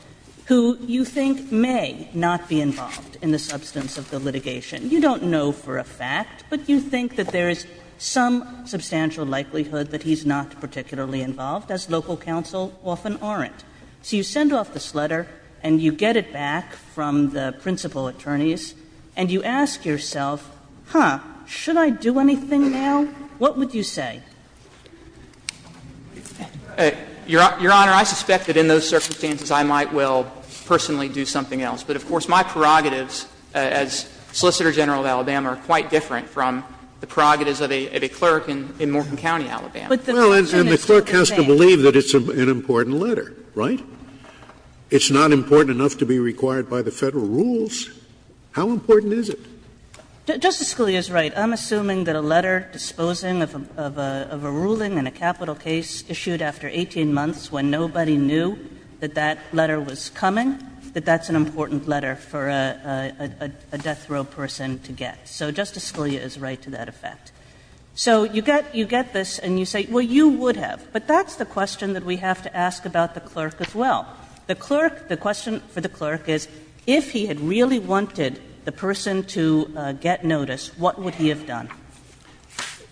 who you think may not be involved in the substance of the litigation, you don't know for a fact, but you think that there is some substantial likelihood that he's not particularly involved, as local counsel often aren't. So you send off this letter and you get it back from the principal attorneys and you ask yourself, huh, should I do anything now? What would you say? Waxman, Your Honor, I suspect that in those circumstances, I might well personally do something else. But, of course, my prerogatives as Solicitor General of Alabama are quite different from the prerogatives of a clerk in Morgan County, Alabama. Scalia, Well, and the clerk has to believe that it's an important letter, right? It's not important enough to be required by the Federal rules. How important is it? Justice Scalia is right. I'm assuming that a letter disposing of a ruling in a capital case issued after 18 months when nobody knew that that letter was coming, that that's an important letter for a death row person to get. So Justice Scalia is right to that effect. So you get this and you say, well, you would have. But that's the question that we have to ask about the clerk as well. The clerk, the question for the clerk is, if he had really wanted the person to get notice, what would he have done?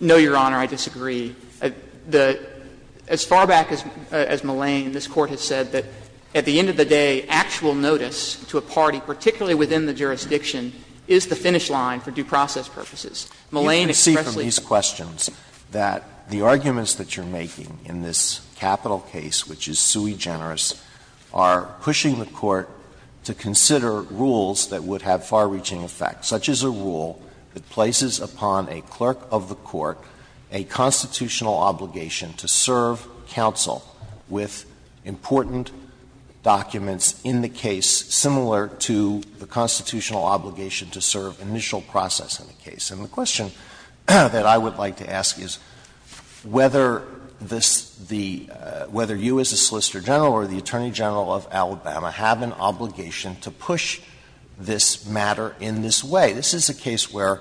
No, Your Honor, I disagree. The as far back as Mullane, this Court has said that at the end of the day, actual notice to a party, particularly within the jurisdiction, is the finish line for due process purposes. Mullane expressly said that. The arguments that you're making in this capital case, which is sui generis, are pushing the Court to consider rules that would have far-reaching effects, such as a rule that places upon a clerk of the court a constitutional obligation to serve counsel with important documents in the case similar to the constitutional obligation to serve initial process in the case. And the question that I would like to ask is whether this the – whether you as a Solicitor General or the Attorney General of Alabama have an obligation to push this matter in this way. This is a case where,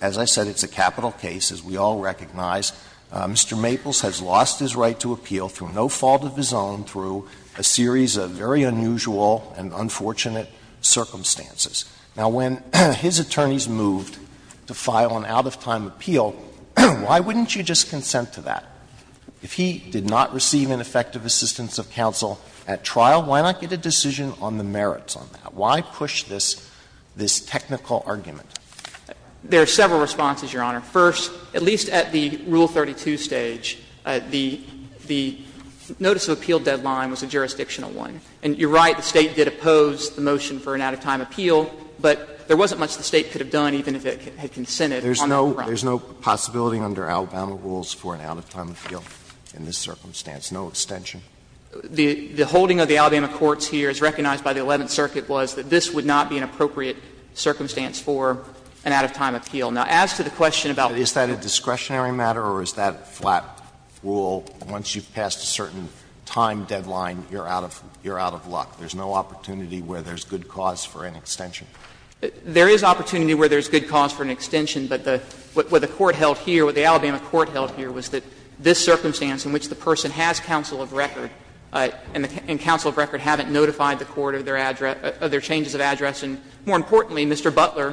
as I said, it's a capital case, as we all recognize. Mr. Maples has lost his right to appeal through no fault of his own through a series of very unusual and unfortunate circumstances. Now, when his attorneys moved to file an out-of-time appeal, why wouldn't you just consent to that? If he did not receive an effective assistance of counsel at trial, why not get a decision on the merits on that? Why push this – this technical argument? There are several responses, Your Honor. First, at least at the Rule 32 stage, the notice of appeal deadline was a jurisdictional one. And you're right, the State did oppose the motion for an out-of-time appeal, but there wasn't much the State could have done, even if it had consented on the front. There's no possibility under Alabama rules for an out-of-time appeal in this circumstance, no extension? The holding of the Alabama courts here, as recognized by the Eleventh Circuit, was that this would not be an appropriate circumstance for an out-of-time appeal. Now, as to the question about whether the State's discretionary matter or is that a flat rule, once you've passed a certain time deadline, you're out of luck. There's no opportunity where there's good cause for an extension. There is opportunity where there's good cause for an extension, but the – what the court held here, what the Alabama court held here was that this circumstance in which the person has counsel of record and counsel of record haven't notified the court of their changes of address, and more importantly, Mr. Butler,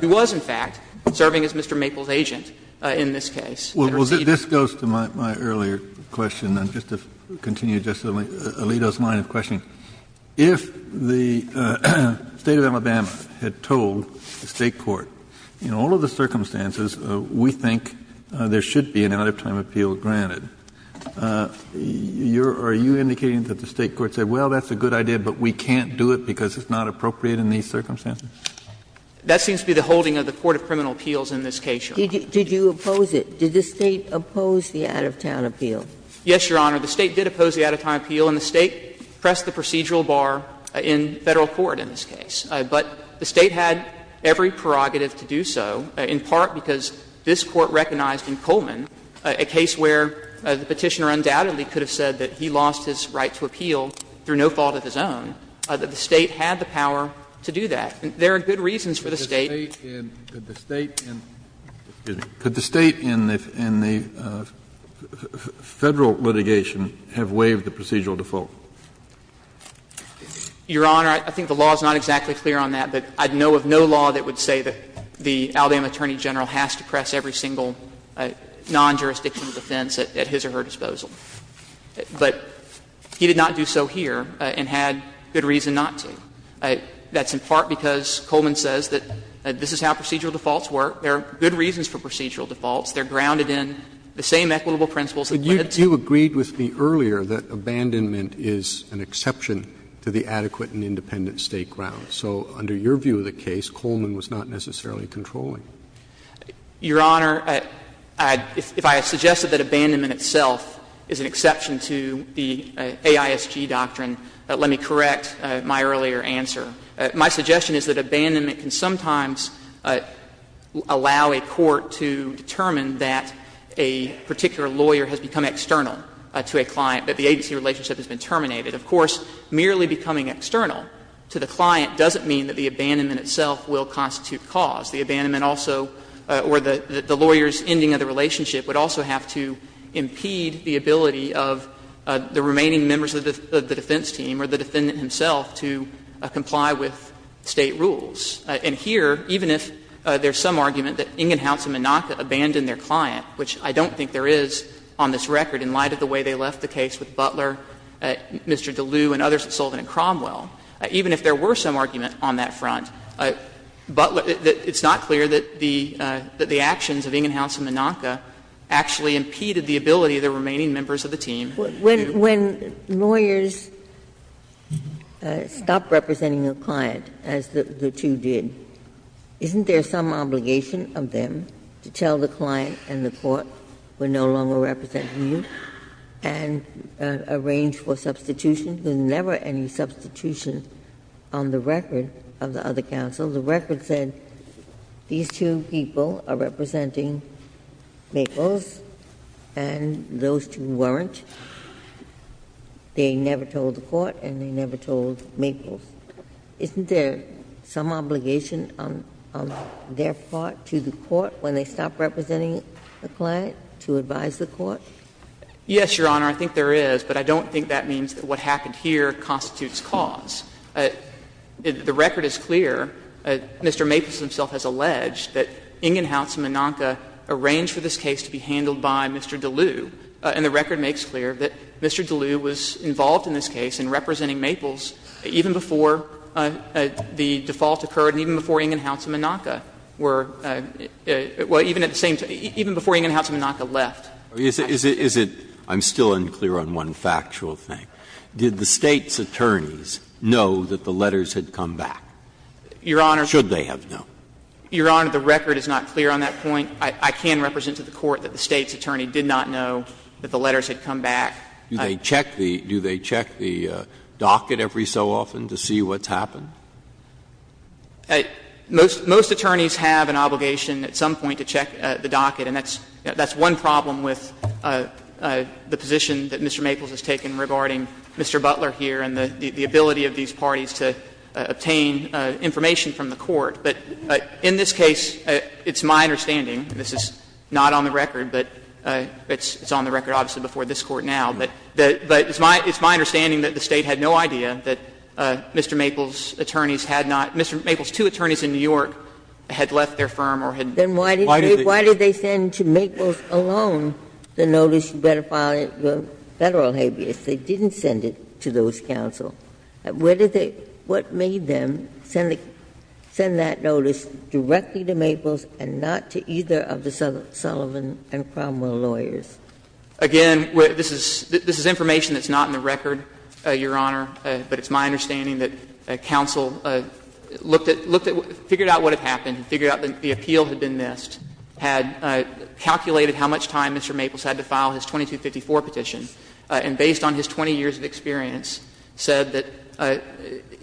who was, in fact, serving as Mr. Maples' agent in this case, had received an out-of-time appeal. Kennedy, I suppose, to my earlier question, and just to continue Justice Alito's line of questioning, if the State of Alabama had told the State court, in all of the circumstances, we think there should be an out-of-time appeal granted, are you indicating that the State court said, well, that's a good idea, but we can't do it because it's not appropriate in these circumstances? That seems to be the holding of the court of criminal appeals in this case, Your Honor. Did you oppose it? Did the State oppose the out-of-time appeal? Yes, Your Honor. The State did oppose the out-of-time appeal, and the State pressed the procedural bar in Federal court in this case. But the State had every prerogative to do so, in part because this court recognized in Coleman a case where the Petitioner undoubtedly could have said that he lost his right to appeal through no fault of his own, that the State had the power to do that. There are good reasons for the State. Kennedy, could the State in the Federal litigation have waived the procedural default? Your Honor, I think the law is not exactly clear on that, but I know of no law that would say that the Alabama attorney general has to press every single non-jurisdictional defense at his or her disposal. But he did not do so here and had good reason not to. That's in part because Coleman says that this is how procedural defaults work. There are good reasons for procedural defaults. They are grounded in the same equitable principles that the State has. But you agreed with me earlier that abandonment is an exception to the adequate and independent State grounds. So under your view of the case, Coleman was not necessarily controlling. Your Honor, if I suggested that abandonment itself is an exception to the AISG doctrine, let me correct my earlier answer. My suggestion is that abandonment can sometimes allow a court to determine that a particular lawyer has become external to a client, that the agency relationship has been terminated. Of course, merely becoming external to the client doesn't mean that the abandonment itself will constitute cause. The abandonment also or the lawyer's ending of the relationship would also have to impede the ability of the remaining members of the defense team or the defendant himself to comply with State rules. And here, even if there's some argument that Ingenhouse and Minaka abandoned their client, which I don't think there is on this record in light of the way they left the case with Butler, Mr. DeLue, and others at Sullivan and Cromwell, even if there were some argument on that front, it's not clear that the actions of Ingenhouse and Minaka actually impeded the ability of the remaining members of the team to do what they wanted to do. Ginsburg. When lawyers stop representing a client, as the two did, isn't there some obligation of them to tell the client and the court, we're no longer representing you, and arrange for substitution? There's never any substitution on the record of the other counsel. The record said these two people are representing Maples, and those two weren't. They never told the court and they never told Maples. Isn't there some obligation on their part to the court when they stop representing a client to advise the court? Yes, Your Honor, I think there is, but I don't think that means that what happened here constitutes cause. The record is clear. Mr. Maples himself has alleged that Ingenhouse and Minaka arranged for this case to be handled by Mr. DeLue, and the record makes clear that Mr. DeLue was involved in this case in representing Maples even before the default occurred and even before Ingenhouse and Minaka were at the same time, even before Ingenhouse and Minaka left. Breyer. Is it — I'm still unclear on one factual thing. Did the State's attorneys know that the letters had come back? Your Honor. Should they have known? Your Honor, the record is not clear on that point. I can represent to the court that the State's attorney did not know that the letters had come back. Do they check the docket every so often to see what's happened? Most attorneys have an obligation at some point to check the docket, and that's one problem with the position that Mr. Maples has taken regarding Mr. Butler here and the ability of these parties to obtain information from the court. But in this case, it's my understanding, this is not on the record, but it's on the record obviously before this Court now, but it's my understanding that the State had no idea that Mr. Maples' attorneys had not — Mr. Maples' two attorneys in New York had left their firm or had— Ginsburg. Why did they send to Maples alone the notice to better file it for Federal habeas? They didn't send it to those counsel. Where did they — what made them send that notice directly to Maples and not to either of the Sullivan and Cromwell lawyers? Again, this is information that's not in the record, Your Honor, but it's my understanding that counsel looked at — figured out what had happened, figured out that the appeal had been missed, had calculated how much time Mr. Maples had to file his 2254 petition, and based on his 20 years of experience, said that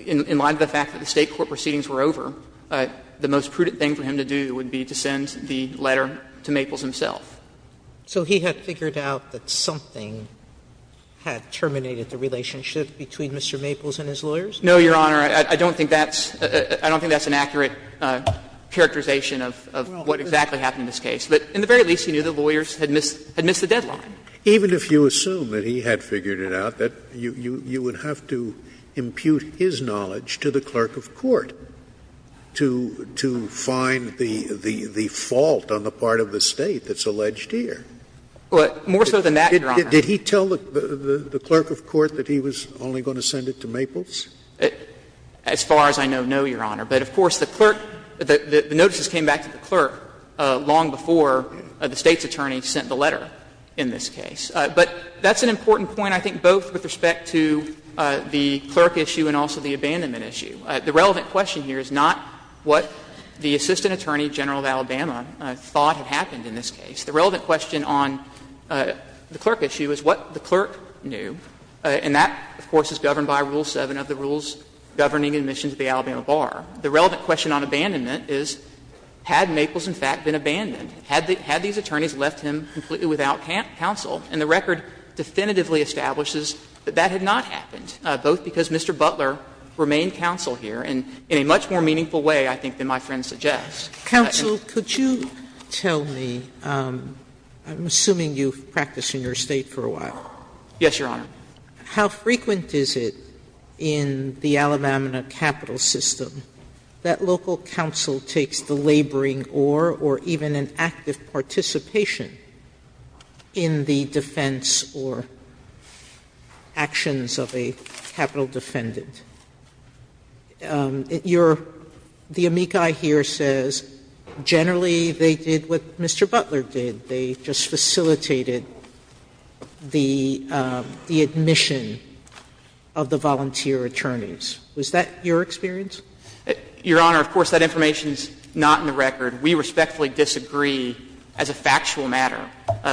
in light of the fact that the State court proceedings were over, the most prudent thing for him to do would be to send the letter to Maples himself. So he had figured out that something had terminated the relationship between Mr. Maples and his lawyers? No, Your Honor. I don't think that's — I don't think that's an accurate characterization of what exactly happened in this case. But in the very least, he knew the lawyers had missed the deadline. Even if you assume that he had figured it out, that you would have to impute his knowledge to the clerk of court to find the fault on the part of the State that's alleged here? Well, more so than that, Your Honor. Did he tell the clerk of court that he was only going to send it to Maples? As far as I know, no, Your Honor. But of course, the clerk — the notices came back to the clerk long before the State's attorney sent the letter in this case. But that's an important point, I think, both with respect to the clerk issue and also the abandonment issue. The relevant question here is not what the assistant attorney general of Alabama thought had happened in this case. The relevant question on the clerk issue is what the clerk knew, and that, of course, is governed by Rule 7 of the rules governing admission to the Alabama bar. The relevant question on abandonment is had Maples, in fact, been abandoned? Had these attorneys left him completely without counsel? And the record definitively establishes that that had not happened, both because Mr. Butler remained counsel here in a much more meaningful way, I think, than my friend suggests. Sotomayor, could you tell me — I'm assuming you've practiced in your State for a while. Yes, Your Honor. How frequent is it in the Alabama capital system that local counsel takes the laboring or even an active participation in the defense or actions of a capital defendant? Your — the amici here says generally they did what Mr. Butler did. They just facilitated the admission of the volunteer attorneys. Was that your experience? Your Honor, of course, that information is not in the record. We respectfully disagree as a factual matter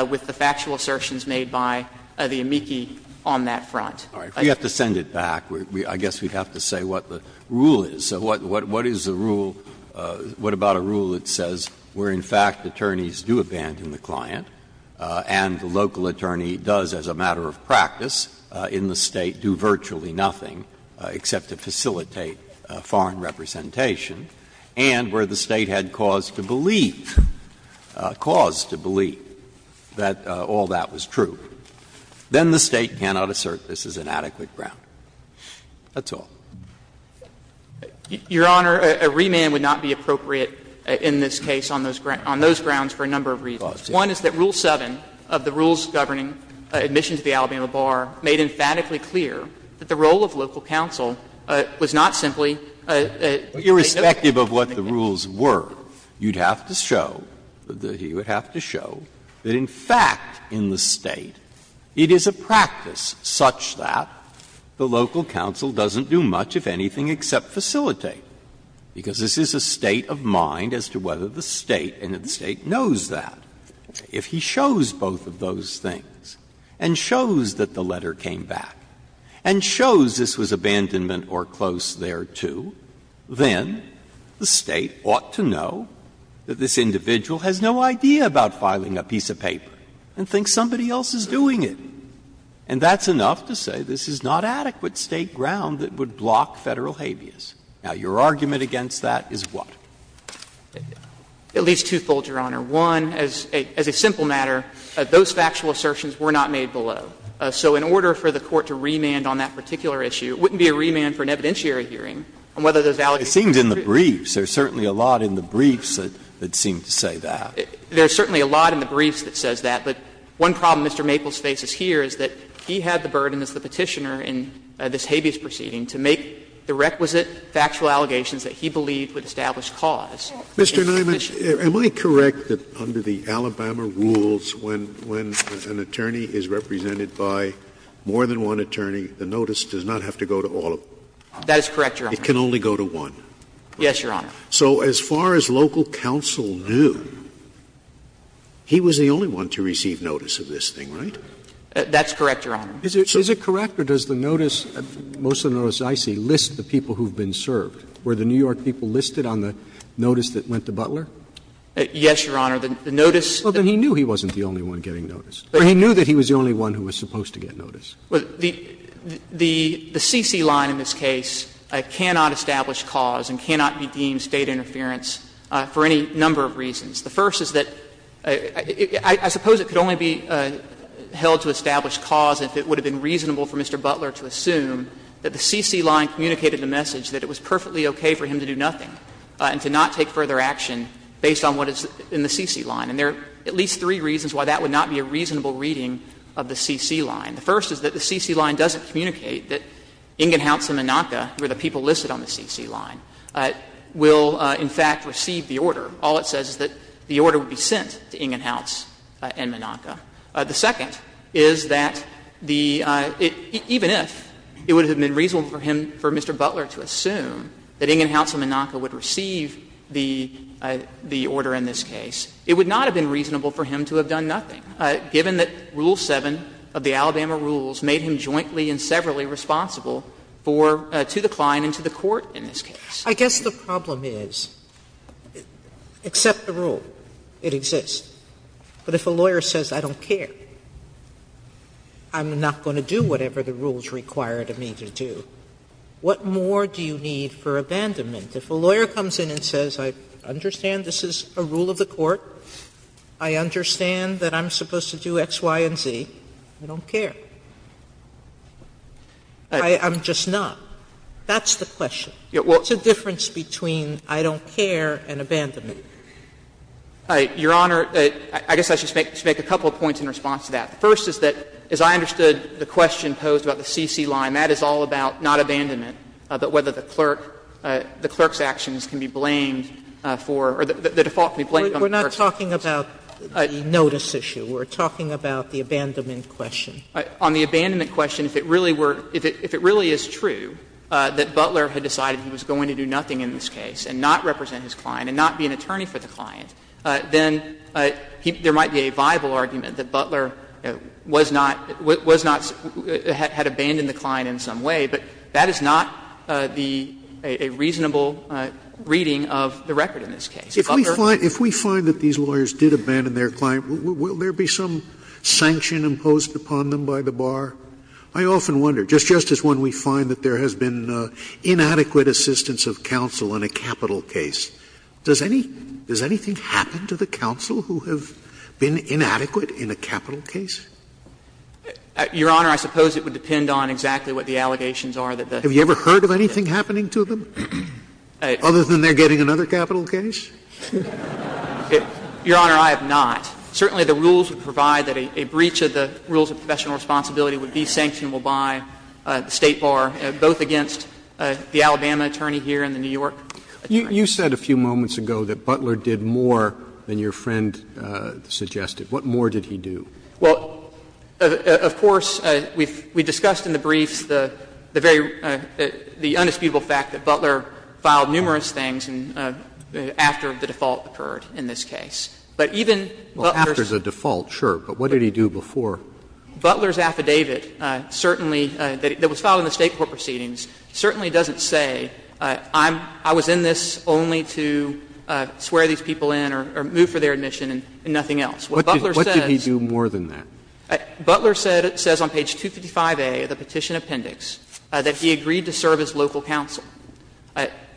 with the factual assertions made by the amici on that front. All right. We have to send it back. I guess we have to say what the rule is. So what is the rule — what about a rule that says where, in fact, attorneys do abandon the client and the local attorney does, as a matter of practice in the State, do virtually nothing except to facilitate foreign representation, and where the State had cause to believe, cause to believe that all that was true, then the State cannot assert this is inadequate ground. That's all. Your Honor, a remand would not be appropriate in this case on those grounds for a number of reasons. One is that Rule 7 of the rules governing admission to the Alabama bar made emphatically clear that the role of local counsel was not simply a no-go. Irrespective of what the rules were, you would have to show that in fact in the State, it is a practice such that the local counsel doesn't do much, if anything, except facilitate, because this is a state of mind as to whether the State and if the State knows that. If he shows both of those things, and shows that the letter came back, and shows this was abandonment or close thereto, then the State ought to know that this individual has no idea about filing a piece of paper and thinks somebody else is doing it. And that's enough to say this is not adequate State ground that would block Federal habeas. Now, your argument against that is what? At least twofold, Your Honor. One, as a simple matter, those factual assertions were not made below. So in order for the Court to remand on that particular issue, it wouldn't be a remand for an evidentiary hearing on whether those allegations were true. It seems in the briefs, there's certainly a lot in the briefs that seem to say that. There's certainly a lot in the briefs that says that. But one problem Mr. Maples faces here is that he had the burden as the Petitioner in this habeas proceeding to make the requisite factual allegations that he believed would establish cause. Mr. Niemann, am I correct that under the Alabama rules, when an attorney is represented by more than one attorney, the notice does not have to go to all of them? That is correct, Your Honor. It can only go to one? Yes, Your Honor. So as far as local counsel knew, he was the only one to receive notice of this thing, right? That's correct, Your Honor. Is it correct or does the notice, most of the notices I see, list the people who have been served? Were the New York people listed on the notice that went to Butler? Yes, Your Honor. The notice that he knew he wasn't the only one getting notice. He knew that he was the only one who was supposed to get notice. Well, the CC line in this case cannot establish cause and cannot be deemed State interference for any number of reasons. The first is that I suppose it could only be held to establish cause if it would have been reasonable for Mr. Butler to assume that the CC line communicated the message that it was perfectly okay for him to do nothing and to not take further action based on what is in the CC line. And there are at least three reasons why that would not be a reasonable reading of the CC line. The first is that the CC line doesn't communicate that Ingenhoutz and Menaka, who are the people listed on the CC line, will in fact receive the order. All it says is that the order would be sent to Ingenhoutz and Menaka. The second is that the — even if it would have been reasonable for him, for Mr. Butler to assume that Ingenhoutz and Menaka would receive the order in this case, it would not have been reasonable for him to have done nothing, given that Rule 7 of the Alabama rules made him jointly and severally responsible for — to the client and to the court in this case. Sotomayor, I guess the problem is, accept the rule, it exists. But if a lawyer says, I don't care, I'm not going to do whatever the rules require me to do, what more do you need for abandonment? If a lawyer comes in and says, I understand this is a rule of the court, I understand that I'm supposed to do X, Y, and Z, I don't care. I'm just not. That's the question. What's the difference between I don't care and abandonment? Mackey, Your Honor, I guess I should make a couple of points in response to that. The first is that, as I understood the question posed about the CC line, that is all about not abandonment, but whether the clerk's actions can be blamed for — or the default can be blamed on the person. Sotomayor, we're not talking about the notice issue. We're talking about the abandonment question. On the abandonment question, if it really were — if it really is true that Butler had decided he was going to do nothing in this case and not represent his client and not be an attorney for the client, then there might be a viable argument that Butler was not — was not — had abandoned the client in some way, but that is not the — a reasonable reading of the record in this case. Scalia, if we find that these lawyers did abandon their client, will there be some sanction imposed upon them by the bar? I often wonder, just as when we find that there has been inadequate assistance of counsel in a capital case, does any — does anything happen to the counsel who have been inadequate in a capital case? Mackey, Your Honor, I suppose it would depend on exactly what the allegations are that the — Scalia, have you ever heard of anything happening to them other than they're getting another capital case? Mackey, Your Honor, I have not. Certainly, the rules would provide that a breach of the rules of professional responsibility would be sanctionable by the State bar, both against the Alabama attorney here and the New York attorney. Roberts, you said a few moments ago that Butler did more than your friend suggested. What more did he do? Mackey, Well, of course, we've discussed in the briefs the very — the undisputable fact that Butler filed numerous things after the default occurred in this case. But even Butler's — Roberts, Well, after the default, sure. But what did he do before? Mackey, Butler's affidavit certainly — that was filed in the State court proceedings certainly doesn't say, I'm — I was in this only to swear these people in or move for their admission and nothing else. What Butler says — Roberts, What did he do more than that? Mackey, Butler said — says on page 255A of the petition appendix that he agreed to serve as local counsel.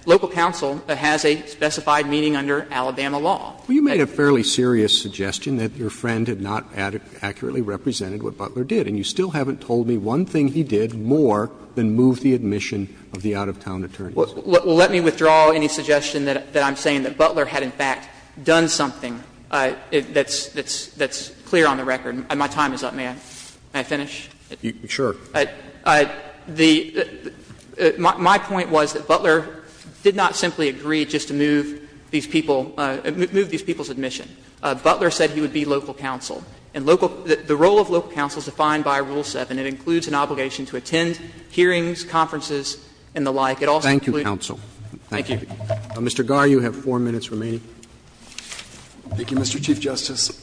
Local counsel has a specified meaning under Alabama law. Roberts, Well, you made a fairly serious suggestion that your friend had not accurately represented what Butler did. And you still haven't told me one thing he did more than move the admission of the out-of-town attorneys. Mackey, Well, let me withdraw any suggestion that I'm saying that Butler had, in fact, done something that's — that's clear on the record. My time is up. May I finish? Roberts, Sure. Mackey, My point was that Butler did not simply agree just to move these people — move these people's admission. Butler said he would be local counsel. And local — the role of local counsel is defined by Rule 7. It includes an obligation to attend hearings, conferences, and the like. It also includes— Roberts, Thank you, counsel. Mackey, Thank you. Roberts, Mr. Garre, you have four minutes remaining. Garre, Thank you, Mr. Chief Justice.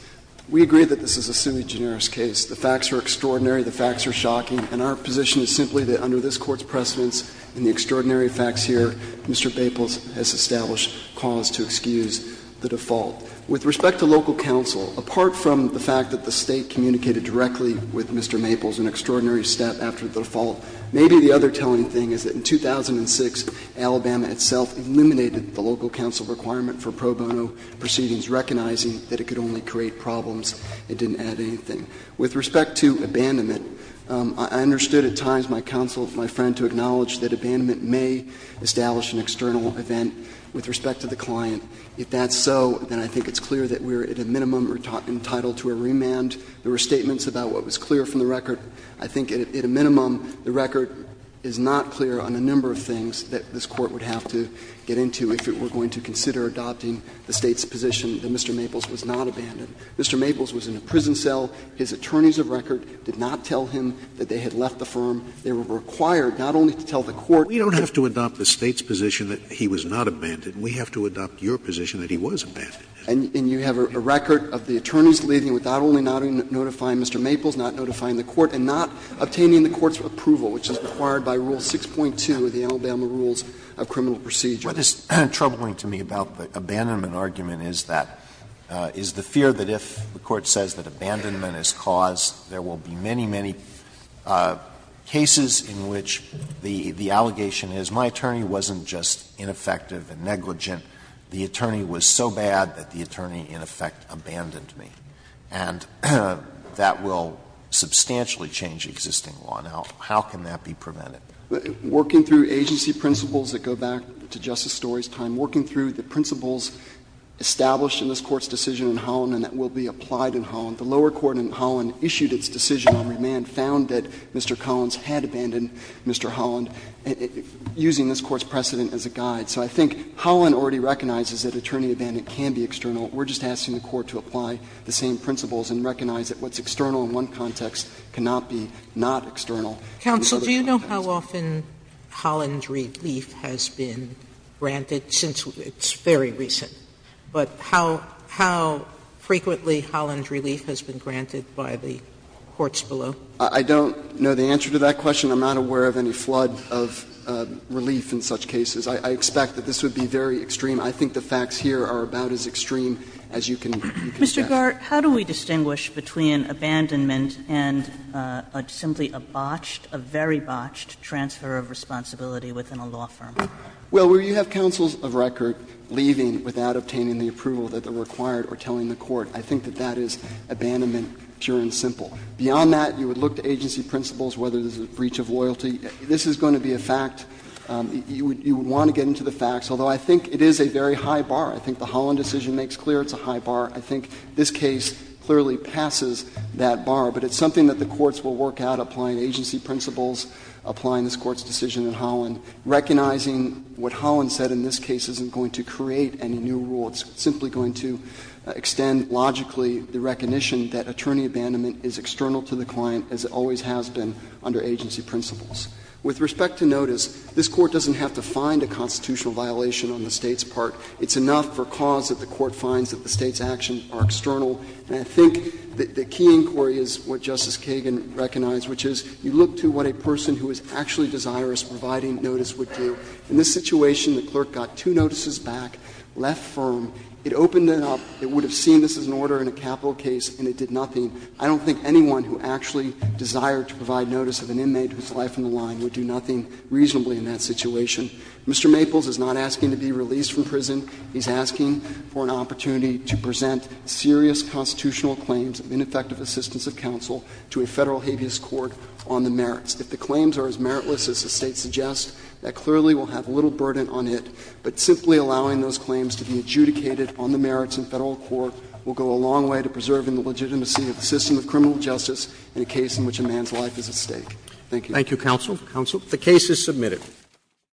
We agree that this is a summa generis case. The facts are extraordinary. The facts are shocking. And our position is simply that under this Court's precedents and the extraordinary facts here, Mr. Maples has established cause to excuse the default. With respect to local counsel, apart from the fact that the State communicated directly with Mr. Maples an extraordinary step after the default, maybe the other telling thing is that in 2006, Alabama itself eliminated the local counsel requirement for pro bono proceedings, recognizing that it could only create problems. It didn't add anything. With respect to abandonment, I understood at times my counsel, my friend, to acknowledge that abandonment may establish an external event with respect to the client. If that's so, then I think it's clear that we're at a minimum entitled to a remand. There were statements about what was clear from the record. I think at a minimum, the record is not clear on a number of things that this Court would have to get into if it were going to consider adopting the State's position that Mr. Maples was not abandoned. Mr. Maples was in a prison cell. His attorneys of record did not tell him that they had left the firm. They were required not only to tell the Court that he was not abandoned, we have to adopt your position that he was abandoned. And you have a record of the attorneys leaving without only notifying Mr. Maples, not notifying the Court, and not obtaining the Court's approval, which is required by Rule 6.2 of the Alabama Rules of Criminal Procedure. Alito, what is troubling to me about the abandonment argument is that, is the fear that if the Court says that abandonment is caused, there will be many, many cases in which the allegation is my attorney wasn't just ineffective and negligent, the attorney was so bad that the attorney in effect abandoned me. And that will substantially change existing law. Now, how can that be prevented? Working through agency principles that go back to Justice Storey's time, working through the principles established in this Court's decision in Holland and that will be applied in Holland, the lower court in Holland issued its decision on remand, found that Mr. Collins had abandoned Mr. Holland, using this Court's precedent as a guide. So I think Holland already recognizes that attorney abandonment can be external. We are just asking the Court to apply the same principles and recognize that what's external in one context cannot be not external in another context. Sotomayor, do you know how often Holland's relief has been granted since it's very recent, but how frequently Holland's relief has been granted by the courts below? I don't know the answer to that question. I'm not aware of any flood of relief in such cases. I expect that this would be very extreme. I think the facts here are about as extreme as you can guess. Mr. Gart, how do we distinguish between abandonment and simply a botched, a very botched transfer of responsibility within a law firm? Well, where you have counsels of record leaving without obtaining the approval that they required or telling the court, I think that that is abandonment pure and simple. Beyond that, you would look to agency principles, whether there's a breach of loyalty. This is going to be a fact. You would want to get into the facts, although I think it is a very high bar. I think the Holland decision makes clear it's a high bar. I think this case clearly passes that bar, but it's something that the courts will work out applying agency principles, applying this Court's decision in Holland, recognizing what Holland said in this case isn't going to create any new rule. It's simply going to extend logically the recognition that attorney abandonment is external to the client, as it always has been under agency principles. With respect to notice, this Court doesn't have to find a constitutional violation on the State's part. It's enough for cause that the Court finds that the State's actions are external. And I think the key inquiry is what Justice Kagan recognized, which is you look to what a person who is actually desirous of providing notice would do. In this situation, the clerk got two notices back, left firm. It opened it up. It would have seen this as an order in a capital case, and it did nothing. I don't think anyone who actually desired to provide notice of an inmate whose life on the line would do nothing reasonably in that situation. Mr. Maples is not asking to be released from prison. He's asking for an opportunity to present serious constitutional claims of ineffective assistance of counsel to a Federal habeas court on the merits. If the claims are as meritless as the State suggests, that clearly will have little burden on it. But simply allowing those claims to be adjudicated on the merits in Federal court will go a long way to preserving the legitimacy of the system of criminal justice in a case in which a man's life is at stake. Thank you. Roberts. Roberts. The case is submitted.